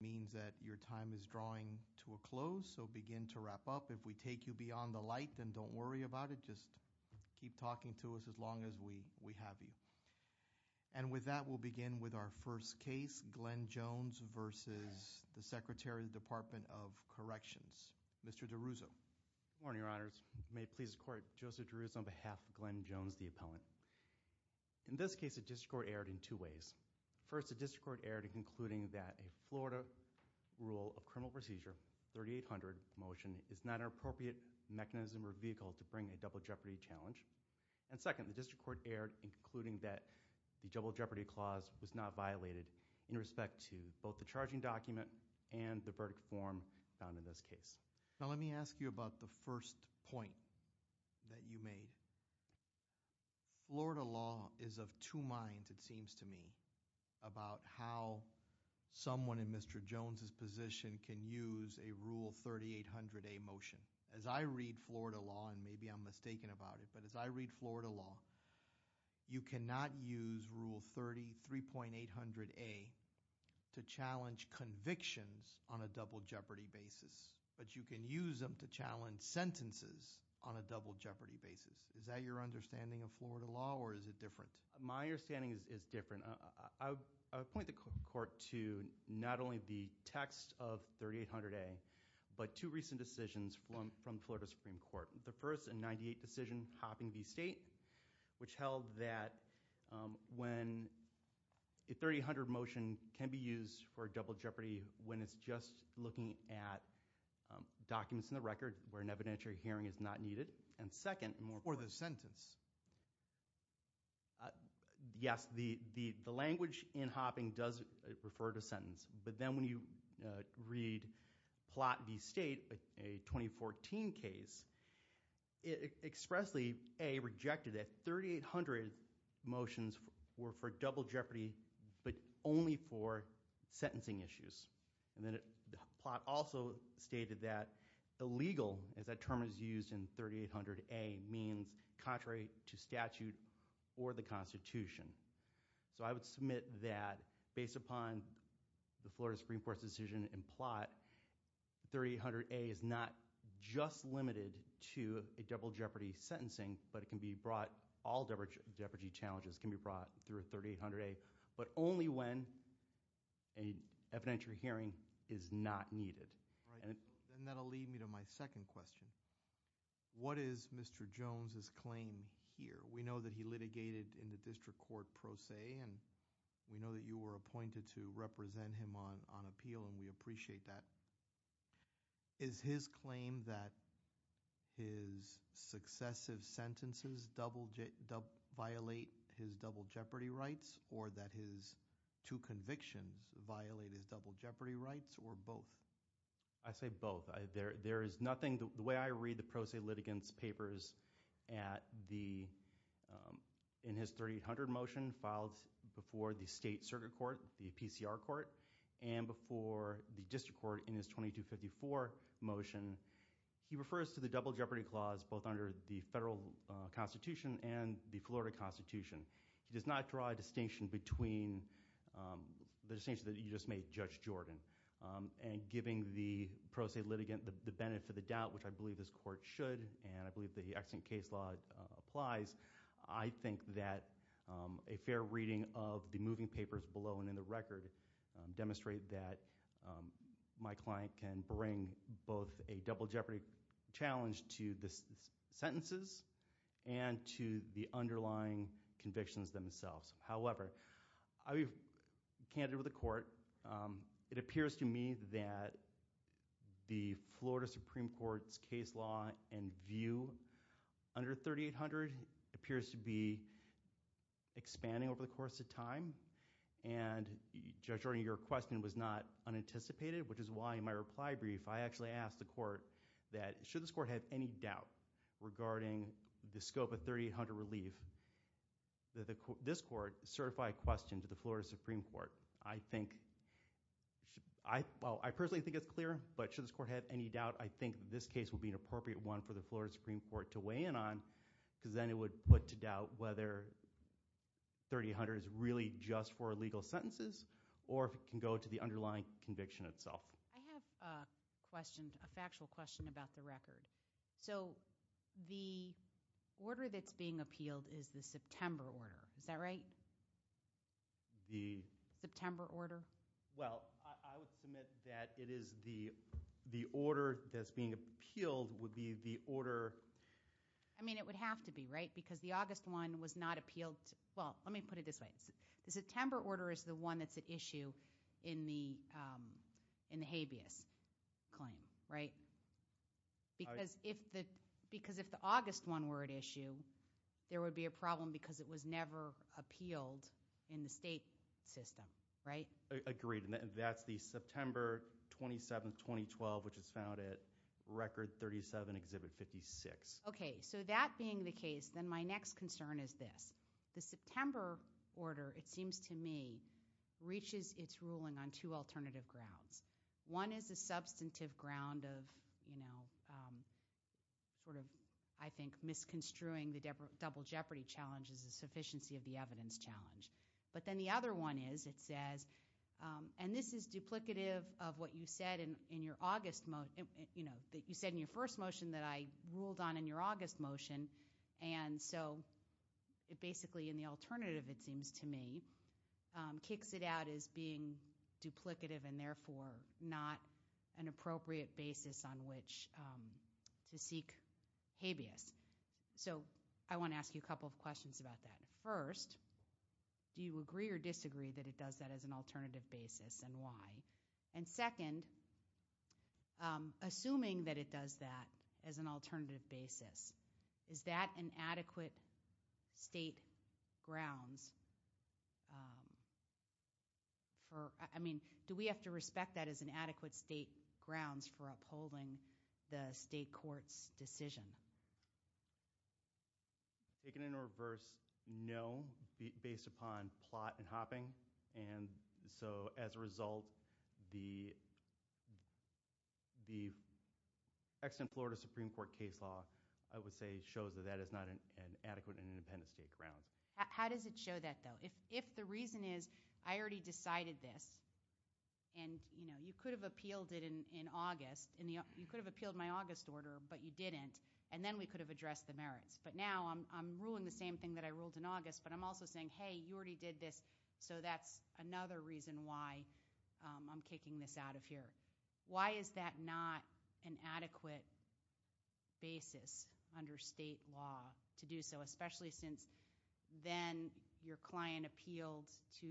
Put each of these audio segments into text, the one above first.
means that your time is drawing to a close, so begin to wrap up. If we take you beyond the light, then don't worry about it. Just keep talking to us as long as we have you. And with that, we'll begin with our first case, Glenn Jones v. the Secretary, Department of Corrections. Mr. DeRuzzo. Good morning, Your Honors. May it please the Court, Joseph DeRuzzo on behalf of Glenn Jones, the appellant. In this case, a district court erred in two ways. First, the district court erred in concluding that a Florida rule of criminal procedure, 3800 motion, is not an appropriate mechanism or vehicle to bring a double jeopardy challenge. And second, the district court erred in concluding that the double jeopardy clause was not violated in respect to both the charging document and the verdict form found in this case. Now, let me ask you about the first point that you made. Florida law is of two minds, it seems to me, about how someone in Mr. Jones' position can use a Rule 3800A motion. As I read Florida law, and maybe I'm mistaken about it, but as I read Florida law, you cannot use Rule 33.800A to challenge convictions on a double jeopardy basis, but you can use them to challenge sentences on a double jeopardy basis. Is that your understanding of Florida law, or is it different? My understanding is different. I would point the court to not only the text of 3800A, but two recent decisions from Florida Supreme Court. The first, in 98 decision, Hopping v. State, which held that when a 3800 motion can be used for a double jeopardy when it's just looking at documents in the record where an evidentiary hearing is not needed, and second, more importantly... Or the sentence. Yes, the language in Hopping does refer to sentence, but then when you read Plot v. State, a 2014 case, it expressly, A, rejected that 3800 motions were for double jeopardy, but only for sentencing issues. And then Plot also stated that illegal, as that term is used in 3800A, means contrary to statute or the Constitution. So I would submit that, based upon the Florida Supreme Court's decision in Plot, 3800A is not just limited to a double jeopardy sentencing, but it can be brought, all double jeopardy challenges can be brought through a 3800A, but only when an evidentiary hearing is not needed. Then that'll lead me to my second question. What is Mr. Jones's claim here? We know that he litigated in the district court pro se, and we know that you were appointed to represent him on appeal, and we appreciate that. Is his claim that his successive sentences violate his double jeopardy rights, or that his two convictions violate his double jeopardy rights, or both? I say both. There is nothing, the way I read the pro se litigant's papers in his 3800 motion, filed before the state circuit court, the PCR court, and before the district court in his 2254 motion, he refers to the double jeopardy clause, both under the federal Constitution and the Florida Constitution. He does not draw a distinction between the distinction that you just made, Judge Jordan, and giving the pro se litigant the benefit of the doubt, which I believe this court should, and I believe the extant case law applies. I think that a fair reading of the moving papers below and in the record demonstrate that my client can bring both a double jeopardy challenge to the sentences and to the underlying convictions themselves. However, I'll be candid with the court. It appears to me that the Florida Supreme Court's case law and view under 3800 appears to be expanding over the course of time, and Judge Jordan, your question was not unanticipated, which is why in my reply brief I actually asked the court that should this court have any doubt regarding the scope of 3800 relief, that this court certify a question to the Florida Supreme Court. I think, well, I personally think it's clear, but should this court have any doubt, I think this case would be an appropriate one for the Florida Supreme Court to weigh in on, because then it would put to doubt whether 3800 is really just for legal sentences, or if it can go to the underlying conviction itself. I have a question, a factual question about the record. So, the order that's being appealed is the September order, is that right? The? September order. Well, I would submit that it is the order that's being appealed would be the order. I mean, it would have to be, right? Because the August one was not appealed, well, let me put it this way. The September order is the one that's at issue in the habeas claim, right? Because if the August one were at issue, there would be a problem because it was never appealed in the state system, right? Agreed, and that's the September 27th, 2012, which is found at record 37, exhibit 56. Okay, so that being the case, then my next concern is this. The September order, it seems to me, reaches its ruling on two alternative grounds. One is a substantive ground of, you know, sort of, I think, misconstruing the double jeopardy challenge as a sufficiency of the evidence challenge. But then the other one is, it says, and this is duplicative of what you said in your August, you know, that you said in your first motion that I ruled on in your August motion, and so it basically, in the alternative, it seems to me, kicks it out as being duplicative, and therefore not an appropriate basis on which to seek habeas. So I wanna ask you a couple of questions about that. First, do you agree or disagree that it does that as an alternative basis, and why? And second, assuming that it does that as an alternative basis, is that an adequate state grounds for, I mean, do we have to respect that as an adequate state grounds for upholding the state court's decision? Take it in a reverse, no, based upon plot and hopping. And so, as a result, the extant Florida Supreme Court case law, I would say, shows that that is not an adequate and independent state grounds. How does it show that, though? If the reason is, I already decided this, and, you know, you could have appealed it in August, you could have appealed my August order, but you didn't, and then we could have addressed the merits. But now I'm ruling the same thing that I ruled in August, but I'm also saying, hey, you already did this, so that's another reason why I'm kicking this out of here. Why is that not an adequate basis under state law to do so? Especially since then your client appealed to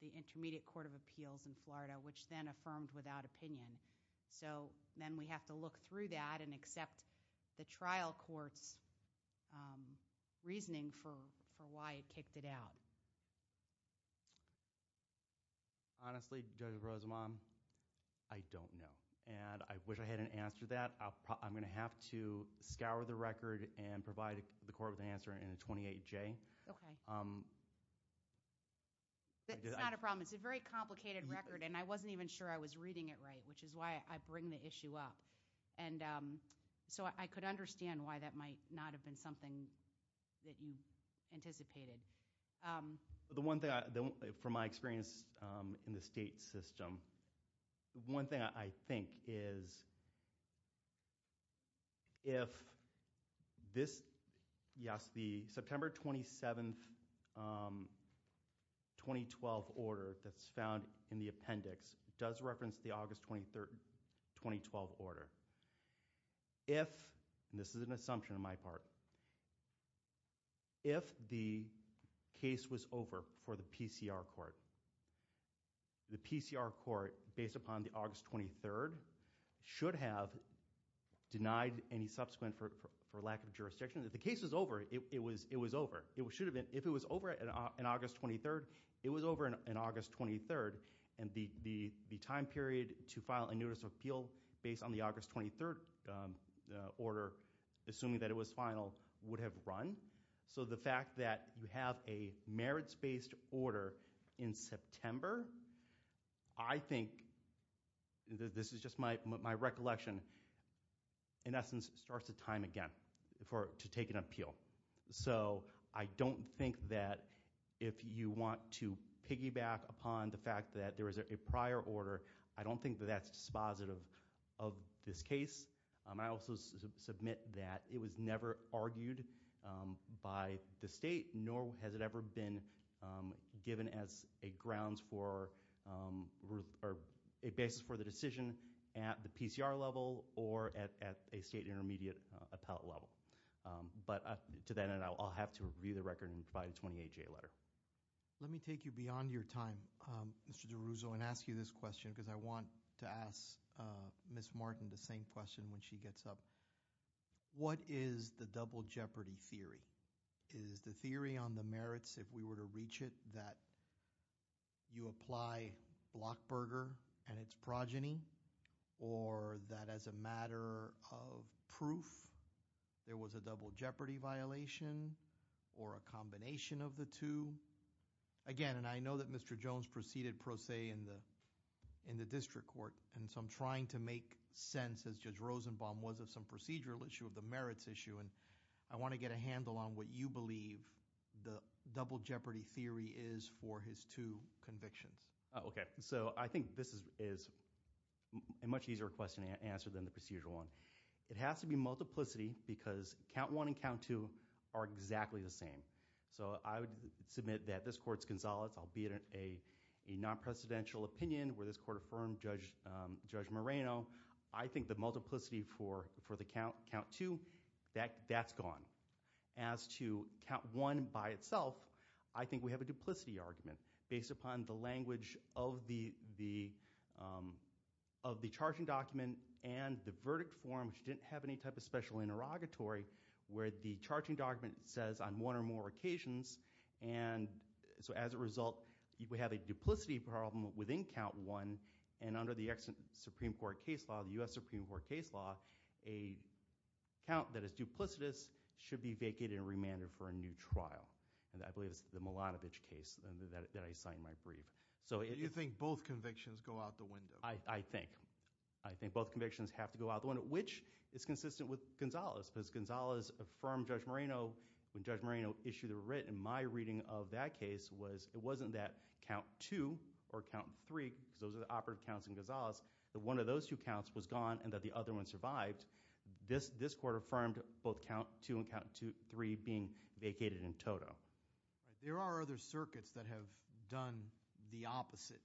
the Intermediate Court of Appeals in Florida, which then affirmed without opinion. So then we have to look through that and accept the trial court's reasoning for why it kicked it out. Thank you. Honestly, Judge Rosenbaum, I don't know. And I wish I hadn't answered that. I'm gonna have to scour the record and provide the court with an answer in a 28-J. Okay. It's not a problem. It's a very complicated record, and I wasn't even sure I was reading it right, which is why I bring the issue up. And so I could understand why that might not have been something that you anticipated. The one thing, from my experience in the state system, one thing I think is if this, yes, the September 27th, 2012 order that's found in the appendix does reference the August 23rd, 2012 order. If, and this is an assumption on my part, but if the case was over for the PCR court, the PCR court, based upon the August 23rd, should have denied any subsequent for lack of jurisdiction. If the case was over, it was over. It should have been. If it was over in August 23rd, it was over in August 23rd. And the time period to file a notice of appeal based on the August 23rd order, assuming that it was final, would have run. So the fact that you have a merits-based order in September, I think, this is just my recollection, in essence, starts the time again to take an appeal. So I don't think that if you want to piggyback upon the fact that there is a prior order, I don't think that that's dispositive of this case. I also submit that it was never argued by the state, nor has it ever been given as a grounds for, or a basis for the decision at the PCR level or at a state intermediate appellate level. But to that end, I'll have to review the record and provide a 28-J letter. Let me take you beyond your time, Mr. DiRusso, and ask you this question, because I want to ask Ms. Martin the same question when she gets up. What is the double jeopardy theory? Is the theory on the merits, if we were to reach it, that you apply Blockberger and its progeny, or that as a matter of proof, there was a double jeopardy violation, or a combination of the two? Again, and I know that Mr. Jones proceeded pro se in the district court, and so I'm trying to make sense, as Judge Rosenbaum was, of some procedural issue of the merits issue, and I want to get a handle on what you believe the double jeopardy theory is for his two convictions. Okay, so I think this is a much easier question to answer than the procedural one. It has to be multiplicity, because count one and count two are exactly the same. So I would submit that this court's consolidates, albeit a non-precedential opinion, where this court affirmed Judge Moreno, I think the multiplicity for the count two, that's gone. As to count one by itself, I think we have a duplicity argument based upon the language of the charging document and the verdict form, which didn't have any type of special interrogatory, where the charging document says on one or more occasions, and so as a result, we have a duplicity problem within count one, and under the Supreme Court case law, the U.S. Supreme Court case law, a count that is duplicitous should be vacated and remanded for a new trial. And I believe it's the Milanovich case that I signed my brief. So it is- Do you think both convictions go out the window? I think. I think both convictions have to go out the window, which is consistent with Gonzales, because Gonzales affirmed Judge Moreno, when Judge Moreno issued a writ in my reading of that case, was it wasn't that count two or count three, because those are the operative counts in Gonzales, that one of those two counts was gone and that the other one survived. This court affirmed both count two and count three being vacated in toto. There are other circuits that have done the opposite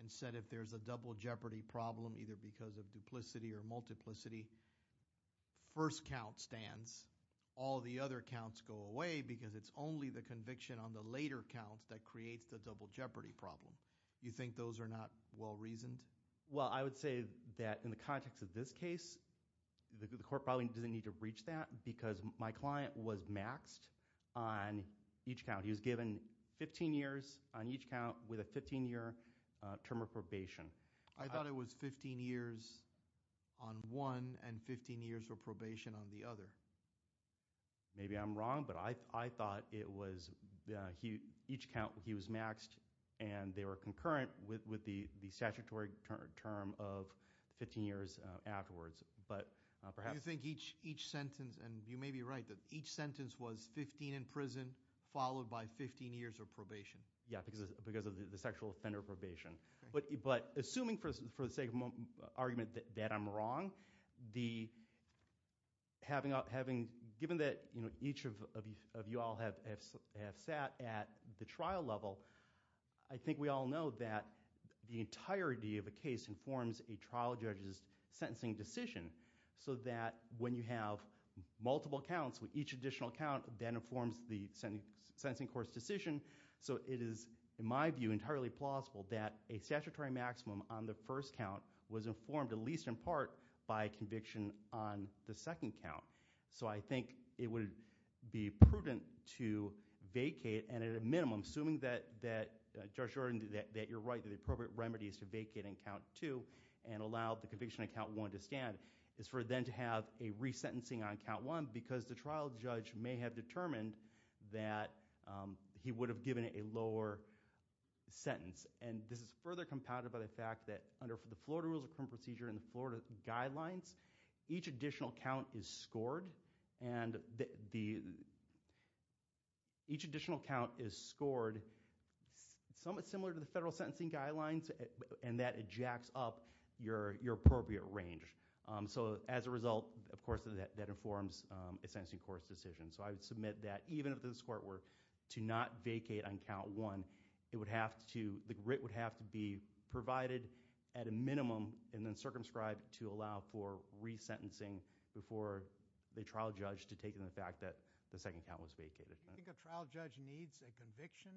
and said if there's a double jeopardy problem, either because of duplicity or multiplicity, first count stands. All the other counts go away because it's only the conviction on the later counts that creates the double jeopardy problem. You think those are not well reasoned? Well, I would say that in the context of this case, the court probably doesn't need to reach that because my client was maxed on each count. He was given 15 years on each count with a 15 year term of probation. I thought it was 15 years on one and 15 years of probation on the other. Maybe I'm wrong, but I thought it was, each count, he was maxed and they were concurrent with the statutory term of 15 years afterwards. But perhaps- Do you think each sentence, and you may be right, that each sentence was 15 in prison followed by 15 years of probation? Yeah, because of the sexual offender probation. But assuming for the sake of argument that I'm wrong, given that each of you all have sat at the trial level, I think we all know that the entirety of a case informs a trial judge's sentencing decision so that when you have multiple counts, each additional count then informs the sentencing court's decision. So it is, in my view, entirely plausible that a statutory maximum on the first count was informed, at least in part, by conviction on the second count. So I think it would be prudent to vacate, and at a minimum, assuming that Judge Jordan, that you're right, that the appropriate remedy is to vacate on count two and allow the conviction on count one to stand, is for then to have a resentencing on count one because the trial judge may have determined And this is further compounded by the fact that under the Florida Rules of Criminal Procedure and the Florida Guidelines, each additional count is scored, and each additional count is scored somewhat similar to the federal sentencing guidelines, and that it jacks up your appropriate range. So as a result, of course, that informs a sentencing court's decision. So I would submit that even if this court were to not vacate on count one, it would have to, the writ would have to be provided at a minimum and then circumscribed to allow for resentencing before the trial judge to take in the fact that the second count was vacated. Do you think a trial judge needs a conviction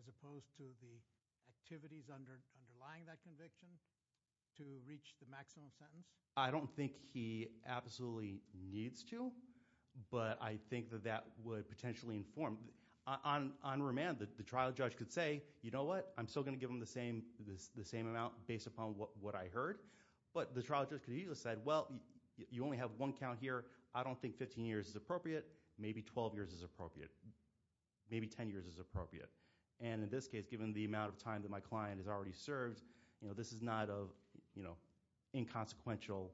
as opposed to the activities underlying that conviction to reach the maximum sentence? I don't think he absolutely needs to, but I think that that would potentially inform. On remand, the trial judge could say, you know what, I'm still gonna give him the same amount based upon what I heard, but the trial judge could usually have said, well, you only have one count here. I don't think 15 years is appropriate. Maybe 12 years is appropriate. Maybe 10 years is appropriate. And in this case, given the amount of time that my client has already served, this is not an inconsequential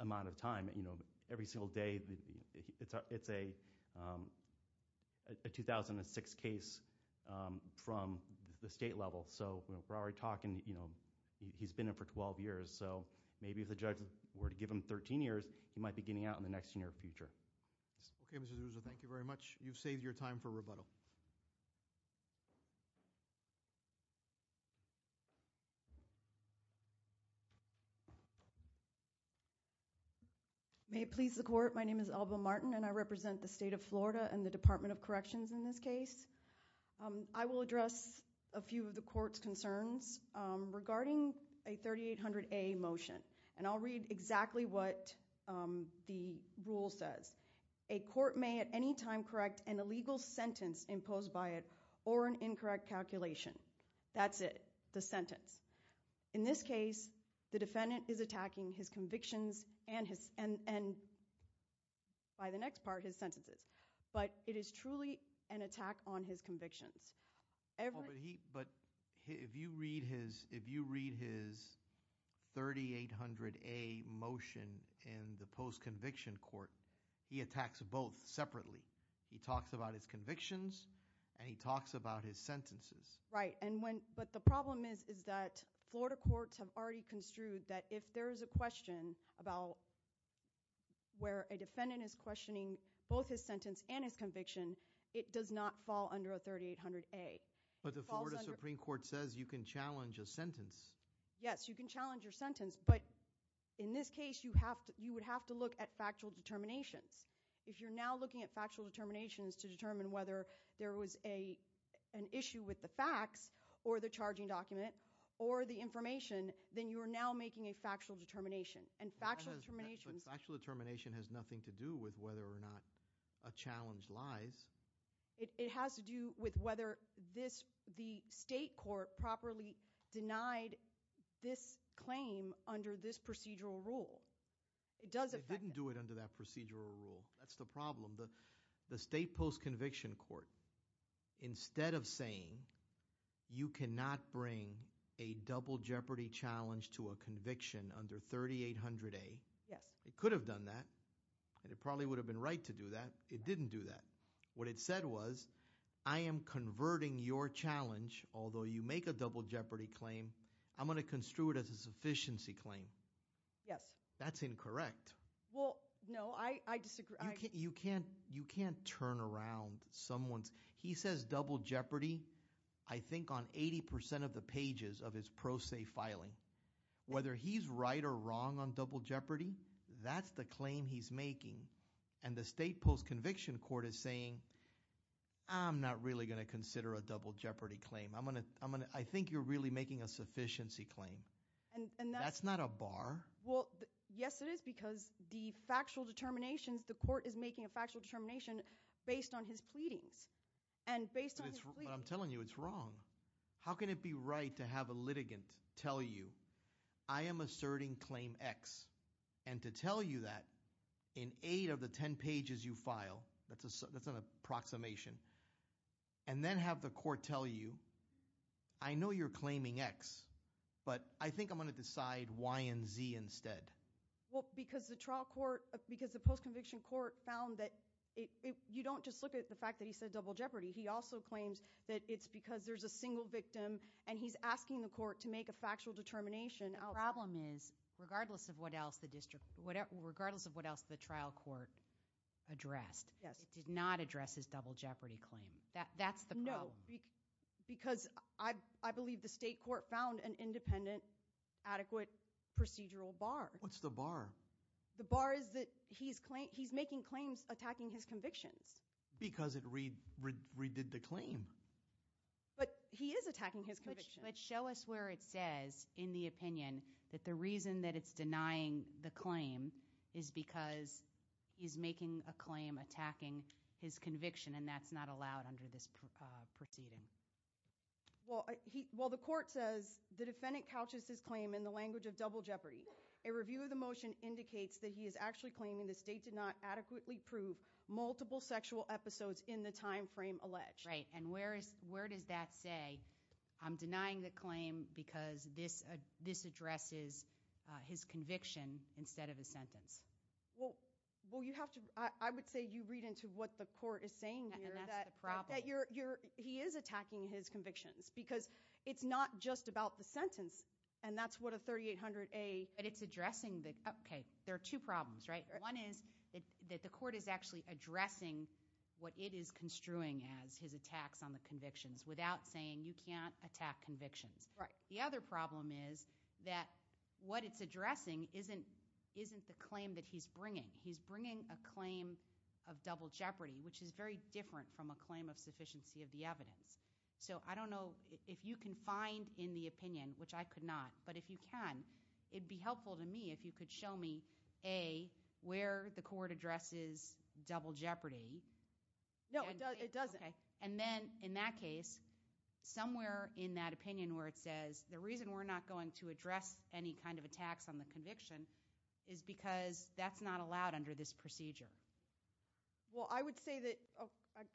amount of time. Every single day, it's a 2006 case from the state level, so we're already talking, he's been in for 12 years, so maybe if the judge were to give him 13 years, he might be getting out in the next year or future. Okay, Mr. Zuzo, thank you very much. You've saved your time for rebuttal. May it please the court, my name is Alba Martin, and I represent the state of Florida and the Department of Corrections in this case. I will address a few of the court's concerns regarding a 3800A motion, and I'll read exactly what the rule says. A court may at any time correct an illegal sentence imposed by it or an incorrect calculation. That's it, the sentence. In this case, the defendant is attacking his convictions and by the next part, his sentences, but it is truly an attack on his convictions. But if you read his 3800A motion in the post-conviction court, he attacks both separately. He talks about his convictions, and he talks about his sentences. Right, but the problem is that Florida courts have already construed that if there is a question about where a defendant is questioning both his sentence and his conviction, it does not fall under a 3800A. But the Florida Supreme Court says you can challenge a sentence. Yes, you can challenge your sentence, but in this case, you would have to look at factual determinations. If you're now looking at factual determinations to determine whether there was an issue with the facts or the charging document or the information, then you are now making a factual determination, and factual determinations. But factual determination has nothing to do with whether or not a challenge lies. It has to do with whether the state court properly denied this claim under this procedural rule. It does affect it. They didn't do it under that procedural rule. That's the problem. The state post-conviction court, instead of saying you cannot bring a double jeopardy challenge to a conviction under 3800A, it could have done that, and it probably would have been right to do that. It didn't do that. What it said was, I am converting your challenge, although you make a double jeopardy claim, I'm gonna construe it as a sufficiency claim. Yes. That's incorrect. Well, no, I disagree. You can't turn around someone's, he says double jeopardy, I think, on 80% of the pages of his pro se filing. Whether he's right or wrong on double jeopardy, that's the claim he's making, and the state post-conviction court is saying, I'm not really gonna consider a double jeopardy claim. I think you're really making a sufficiency claim. That's not a bar. Well, yes it is, because the factual determinations, the court is making a factual determination based on his pleadings, and based on his pleadings. But I'm telling you, it's wrong. How can it be right to have a litigant tell you, I am asserting claim X, and to tell you that in eight of the 10 pages you file, that's an approximation, and then have the court tell you, I know you're claiming X, but I think I'm gonna decide Y and Z instead. Well, because the trial court, because the post-conviction court found that, you don't just look at the fact that he said double jeopardy. He also claims that it's because there's a single victim, and he's asking the court to make a factual determination. The problem is, regardless of what else the district, regardless of what else the trial court addressed, it did not address his double jeopardy claim. That's the problem. No, because I believe the state court found an independent, adequate procedural bar. What's the bar? The bar is that he's making claims attacking his convictions. Because it redid the claim. But he is attacking his convictions. But show us where it says, in the opinion, that the reason that it's denying the claim is because he's making a claim attacking his conviction, and that's not allowed under this proceeding. Well, the court says the defendant couches his claim in the language of double jeopardy. A review of the motion indicates that he is actually claiming the state did not adequately prove multiple sexual episodes in the time frame alleged. Right, and where does that say, I'm denying the claim because this addresses his conviction instead of his sentence? Well, you have to, I would say you read into what the court is saying here. And that's the problem. He is attacking his convictions, because it's not just about the sentence, and that's what a 3800A. But it's addressing the, okay, there are two problems, right? One is that the court is actually addressing what it is construing as his attacks on the convictions without saying you can't attack convictions. The other problem is that what it's addressing isn't the claim that he's bringing. He's bringing a claim of double jeopardy, which is very different from a claim of sufficiency of the evidence. So I don't know if you can find in the opinion, which I could not, but if you can, it'd be helpful to me if you could show me A, where the court addresses double jeopardy. No, it doesn't. And then in that case, somewhere in that opinion where it says the reason we're not going to address any kind of attacks on the conviction is because that's not allowed under this procedure. Well, I would say that,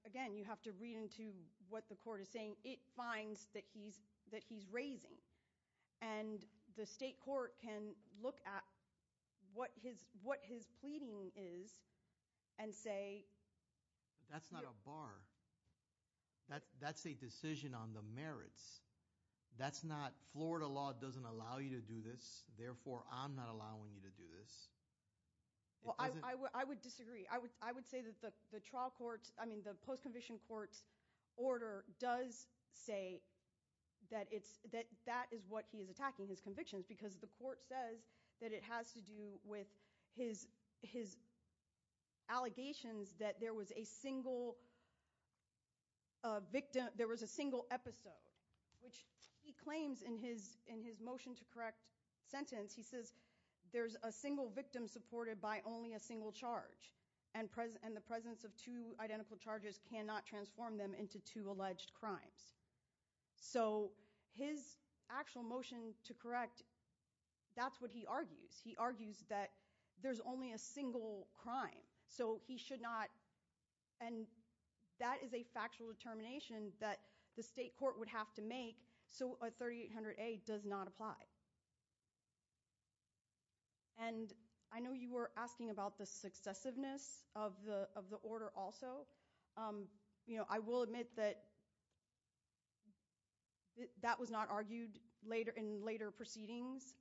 again, you have to read into what the court is saying. It finds that he's raising. And the state court can look at what his pleading is and say. That's not a bar. That's a decision on the merits. That's not Florida law doesn't allow you to do this. Therefore, I'm not allowing you to do this. Well, I would disagree. I would say that the trial court, I mean, the post-conviction court's order does say that that is what he is attacking, his convictions, because the court says that it has to do with his allegations that there was a single victim, there was a single episode, which he claims in his motion to correct sentence, he says there's a single victim supported by only a single charge. And the presence of two identical charges cannot transform them into two alleged crimes. So his actual motion to correct, that's what he argues. He argues that there's only a single crime, so he should not, and that is a factual determination that the state court would have to make, so a 3800A does not apply. And I know you were asking about the successiveness of the order also. I will admit that that was not argued in later proceedings.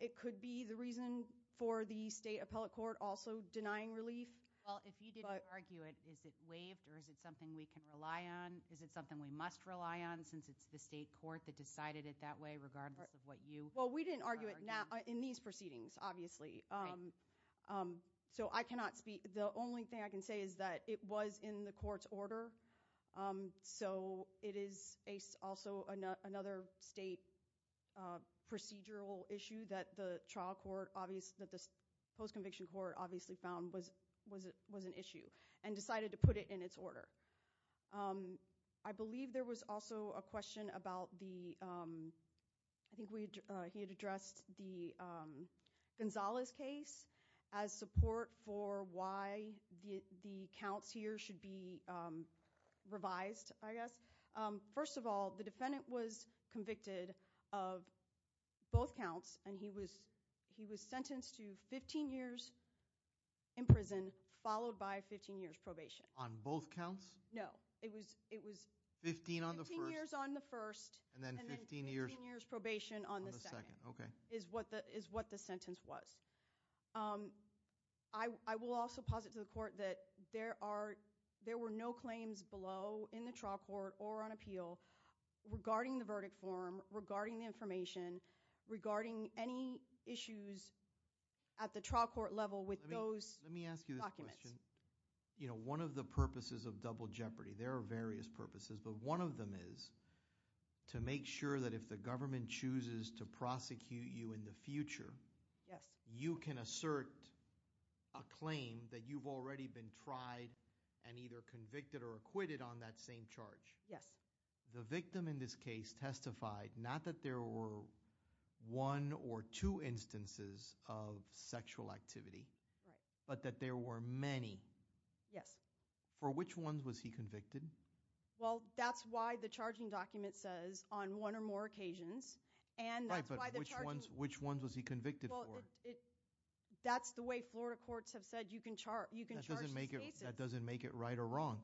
It could be the reason for the state appellate court also denying relief. Well, if he didn't argue it, is it waived or is it something we can rely on? Is it something we must rely on since it's the state court that decided it that way regardless of what you are arguing? Well, we didn't argue it in these proceedings, obviously. So I cannot speak, the only thing I can say is that it was in the court's order, so it is also another state procedural issue that the trial court, that the post-conviction court obviously found was an issue and decided to put it in its order. I believe there was also a question about the, I think he had addressed the Gonzales case as support for why the counts here should be revised, I guess. First of all, the defendant was convicted of both counts and he was sentenced to 15 years in prison followed by 15 years probation. On both counts? No, it was 15 years on the first and then 15 years probation on the second is what the sentence was. I will also posit to the court that there were no claims below in the trial court or on appeal regarding the verdict form, regarding the information, regarding any issues at the trial court level with those documents. Let me ask you this question. One of the purposes of double jeopardy, there are various purposes, but one of them is to make sure that if the government chooses to prosecute you in the future, you can assert a claim that you've already been tried and either convicted or acquitted on that same charge. The victim in this case testified, not that there were one or two instances of sexual activity, but that there were many. Yes. For which ones was he convicted? Well, that's why the charging document says on one or more occasions and that's why the charging. Which ones was he convicted for? That's the way Florida courts have said you can charge these cases. That doesn't make it right or wrong.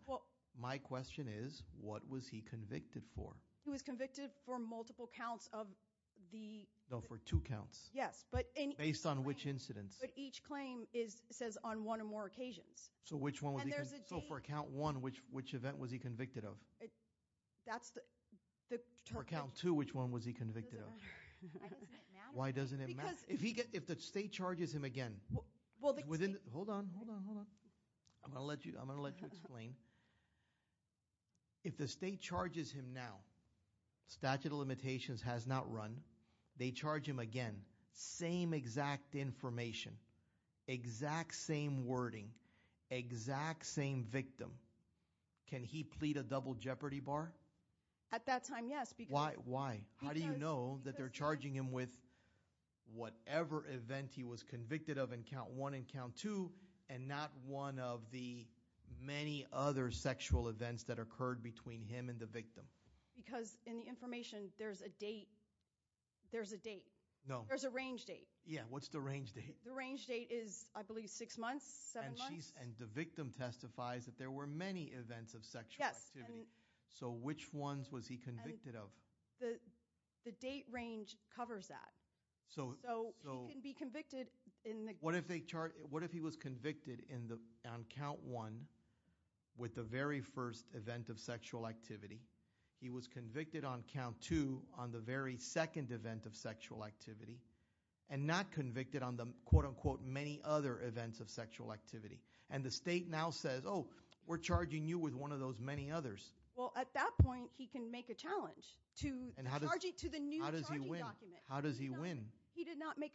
My question is, what was he convicted for? He was convicted for multiple counts of the. No, for two counts. Yes, but in. Based on which incidents? So which one was he convicted for? And there's a date. So for count one, which event was he convicted of? That's the. For count two, which one was he convicted of? Why doesn't it matter? Why doesn't it matter? Because. If the state charges him again. Well. Hold on, hold on, hold on. I'm going to let you explain. If the state charges him now, statute of limitations has not run, they charge him again, same exact information, exact same wording, exact same victim. Can he plead a double jeopardy bar? At that time, yes, because. Why, how do you know that they're charging him with whatever event he was convicted of in count one and count two, and not one of the many other sexual events that occurred between him and the victim? Because in the information, there's a date. There's a date. No. There's a range date. Yeah, what's the range date? The range date is, I believe, six months, seven months. And the victim testifies that there were many events of sexual activity. So which ones was he convicted of? The date range covers that. So he can be convicted in the. What if they charge, what if he was convicted on count one with the very first event of sexual activity, he was convicted on count two on the very second event of sexual activity, and not convicted on the, quote unquote, many other events of sexual activity. And the state now says, oh, we're charging you with one of those many others. Well, at that point, he can make a challenge to the new charging document. How does he win? He did not make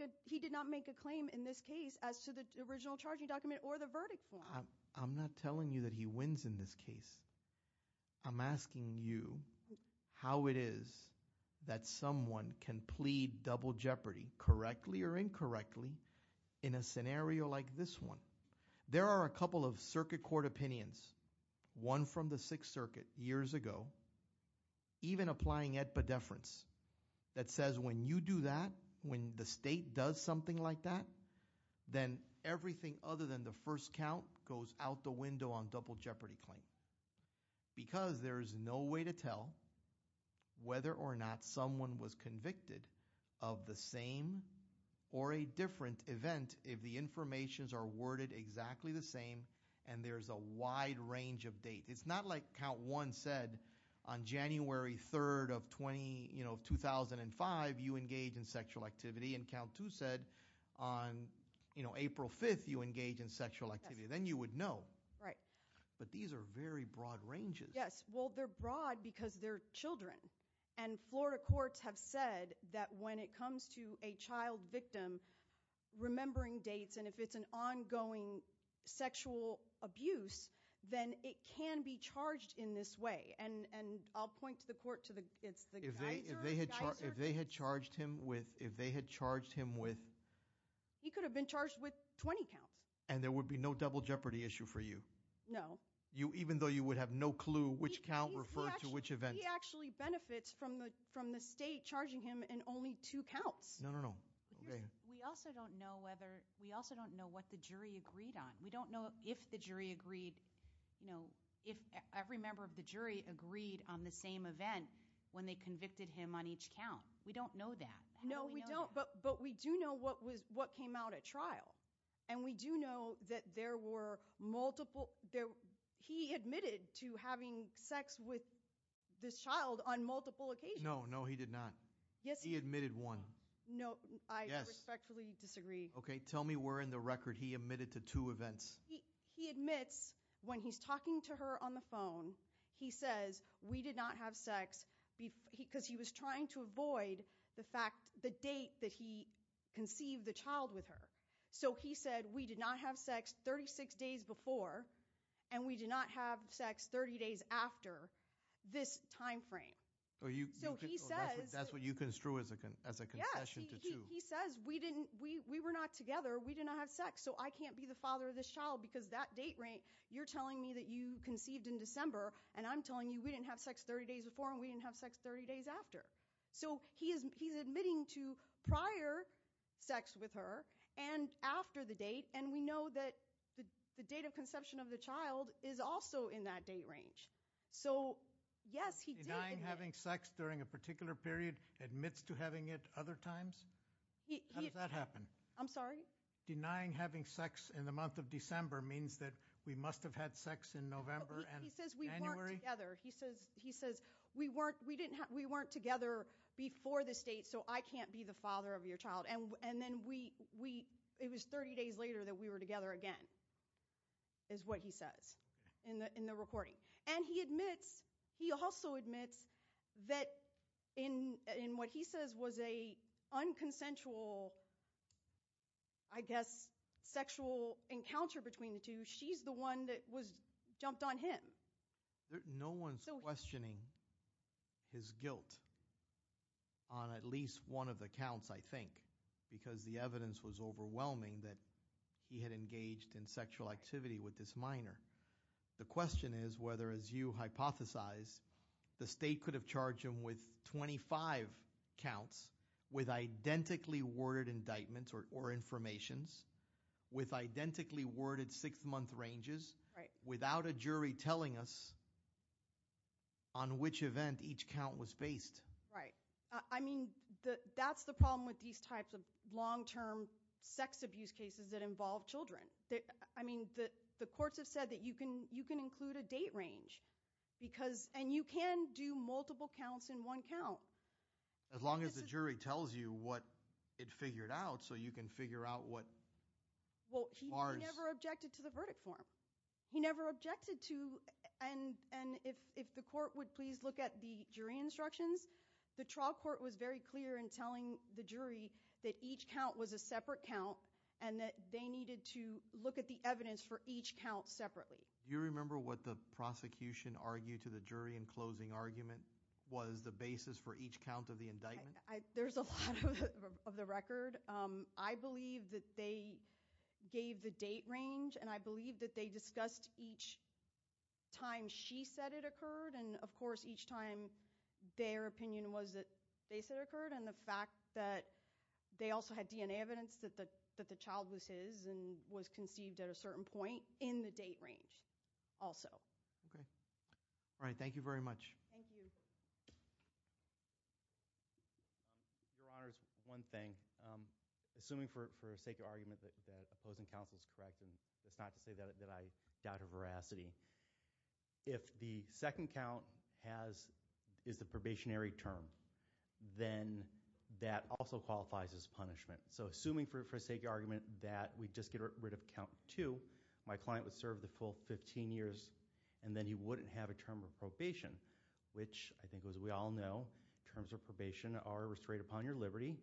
a claim in this case as to the original charging document or the verdict form. I'm not telling you that he wins in this case. I'm asking you how it is that someone can plead double jeopardy, correctly or incorrectly, in a scenario like this one. There are a couple of circuit court opinions, one from the Sixth Circuit years ago, even applying it at the deference, that says when you do that, when the state does something like that, then everything other than the first count goes out the window on double jeopardy claim. Because there is no way to tell whether or not someone was convicted of the same or a different event if the informations are worded exactly the same and there's a wide range of date. It's not like count one said, on January 3rd of 2005, you engage in sexual activity, and count two said, on April 5th, you engage in sexual activity. Then you would know. But these are very broad ranges. Yes, well, they're broad because they're children. And Florida courts have said that when it comes to a child victim, remembering dates, and if it's an ongoing sexual abuse, then it can be charged in this way. And I'll point to the court, it's the geyser. If they had charged him with. If they had charged him with. He could have been charged with 20 counts. And there would be no double jeopardy issue for you? No. Even though you would have no clue which count referred to which event? He actually benefits from the state charging him in only two counts. No, no, no. We also don't know whether, we also don't know what the jury agreed on. We don't know if the jury agreed, if every member of the jury agreed on the same event when they convicted him on each count. No, we don't, but we do know what came out at trial. And we do know that there were multiple, he admitted to having sex with this child on multiple occasions. No, no, he did not. Yes. He admitted one. No, I respectfully disagree. Okay, tell me where in the record he admitted to two events. He admits when he's talking to her on the phone, he says, we did not have sex, because he was trying to avoid the fact, the date that he conceived the child with her. So he said, we did not have sex 36 days before, and we did not have sex 30 days after this time frame. So he says. That's what you construe as a concession to two. He says, we were not together, we did not have sex, so I can't be the father of this child, because that date rank, you're telling me that you conceived in December, and I'm telling you, we didn't have sex 30 days before, and we didn't have sex 30 days after. So he's admitting to prior sex with her, and after the date, and we know that the date of conception of the child is also in that date range. So, yes, he did. Denying having sex during a particular period, admits to having it other times? How does that happen? I'm sorry? Denying having sex in the month of December means that we must have had sex in November and January? He says, we weren't together. He says, we weren't together before this date, so I can't be the father of your child. And then we, it was 30 days later that we were together again, is what he says in the recording. And he admits, he also admits, that in what he says was a unconsensual, I guess, sexual encounter between the two, she's the one that jumped on him. No one's questioning his guilt on at least one of the counts, I think, because the evidence was overwhelming that he had engaged in sexual activity with this minor. The question is whether, as you hypothesize, the state could have charged him with 25 counts with identically worded indictments or informations, with identically worded six-month ranges, without a jury telling us on which event each count was based. Right, I mean, that's the problem with these types of long-term sex abuse cases that involve children. I mean, the courts have said that you can include a date range, because, and you can do multiple counts in one count. As long as the jury tells you what it figured out, so you can figure out what bars. Well, he never objected to the verdict form. He never objected to, and if the court would please look at the jury instructions, the trial court was very clear in telling the jury that each count was a separate count and that they needed to look at the evidence for each count separately. Do you remember what the prosecution argued to the jury in closing argument was the basis for each count of the indictment? There's a lot of the record. I believe that they gave the date range, and I believe that they discussed each time she said it occurred, and of course, each time their opinion was that they said it occurred, and the fact that they also had DNA evidence that the child was his and was conceived at a certain point in the date range also. Okay. All right, thank you very much. Thank you. Your Honor, one thing. Assuming for sake of argument that opposing counsel is correct, and it's not to say that I doubt her veracity, if the second count is the probationary term, then that also qualifies as punishment. So assuming for sake of argument that we just get rid of count two, my client would serve the full 15 years, and then he wouldn't have a term of probation, which I think as we all know, terms of probation are restrained upon your liberty,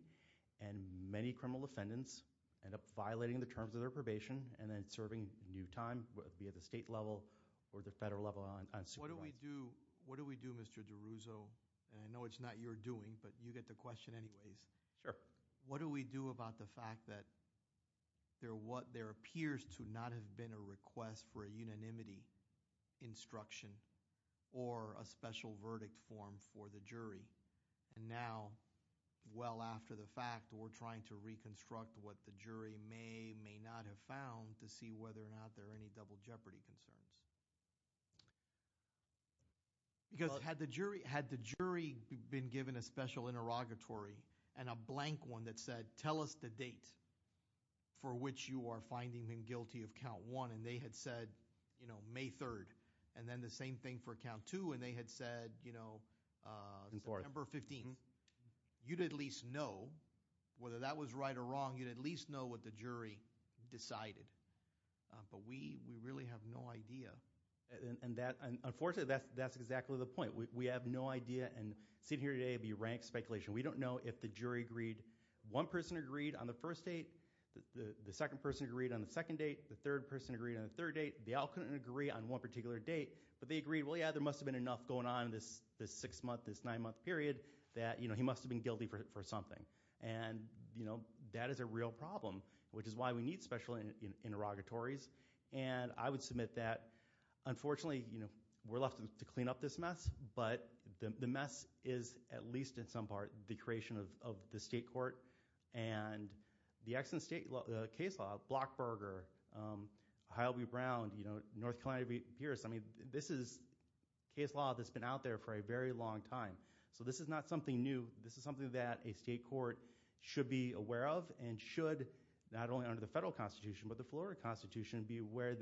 and many criminal defendants end up violating the terms of their probation and then serving new time, be it the state level or the federal level on supervision. What do we do, Mr. DiRusso? And I know it's not your doing, but you get the question anyways. Sure. What do we do about the fact that there appears to not have been a request for a unanimity instruction or a special verdict form for the jury, and now, well after the fact, we're trying to reconstruct what the jury may or may not have found to see whether or not there are any double jeopardy concerns? Because had the jury been given a special interrogatory and a blank one that said, tell us the date for which you are finding him guilty of count one, and they had said, you know, May 3rd, and then the same thing for count two, and they had said, you know, September 15th, you'd at least know, whether that was right or wrong, you'd at least know what the jury decided. But we really have no idea. And unfortunately, that's exactly the point. We have no idea, and sitting here today, it'd be rank speculation. We don't know if the jury agreed, one person agreed on the first date, the second person agreed on the second date, the third person agreed on the third date, they all couldn't agree on one particular date, but they agreed, well yeah, there must have been enough going on in this six month, this nine month period, that he must have been guilty for something. And, you know, that is a real problem, which is why we need special interrogatories. And I would submit that, unfortunately, you know, we're left to clean up this mess, but the mess is, at least in some part, the creation of the state court, and the excellent state, the case law, Blockberger, Hylby Brown, you know, North Carolina Pierce, I mean, this is case law that's been out there for a very long time. So this is not something new, this is something that a state court should be aware of, and should, not only under the federal constitution, but the Florida constitution, be aware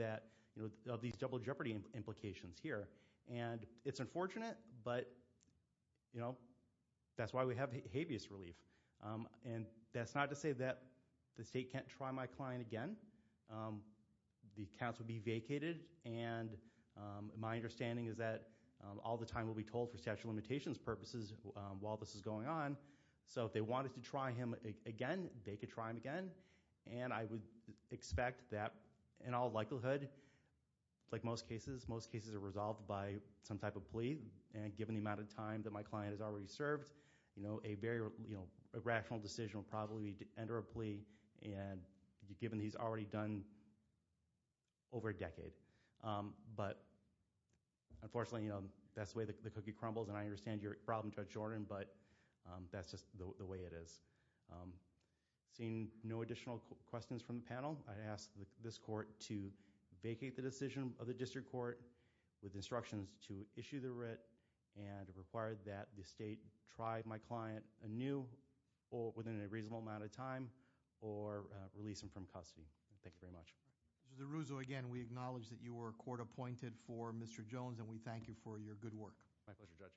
of these double jeopardy implications here. And it's unfortunate, but, you know, that's why we have habeas relief. And that's not to say that the state can't try my client again. The counts would be vacated, and my understanding is that all the time will be told for statute of limitations purposes while this is going on. So if they wanted to try him again, they could try him again, and I would expect that, in all likelihood, like most cases, most cases are resolved by some type of plea, and given the amount of time that my client has already served, you know, a very, you know, a rational decision would probably be to enter a plea, and given he's already done over a decade. But, unfortunately, you know, that's the way the cookie crumbles, and I understand your problem, Judge Jordan, but that's just the way it is. Seeing no additional questions from the panel, I ask this court to vacate the decision of the district court with instructions to issue the writ, and require that the state try my client anew, or within a reasonable amount of time, or release him from custody. Thank you very much. Judge DeRuzo, again, we acknowledge that you were court appointed for Mr. Jones, and we thank you for your good work. My pleasure, Judge.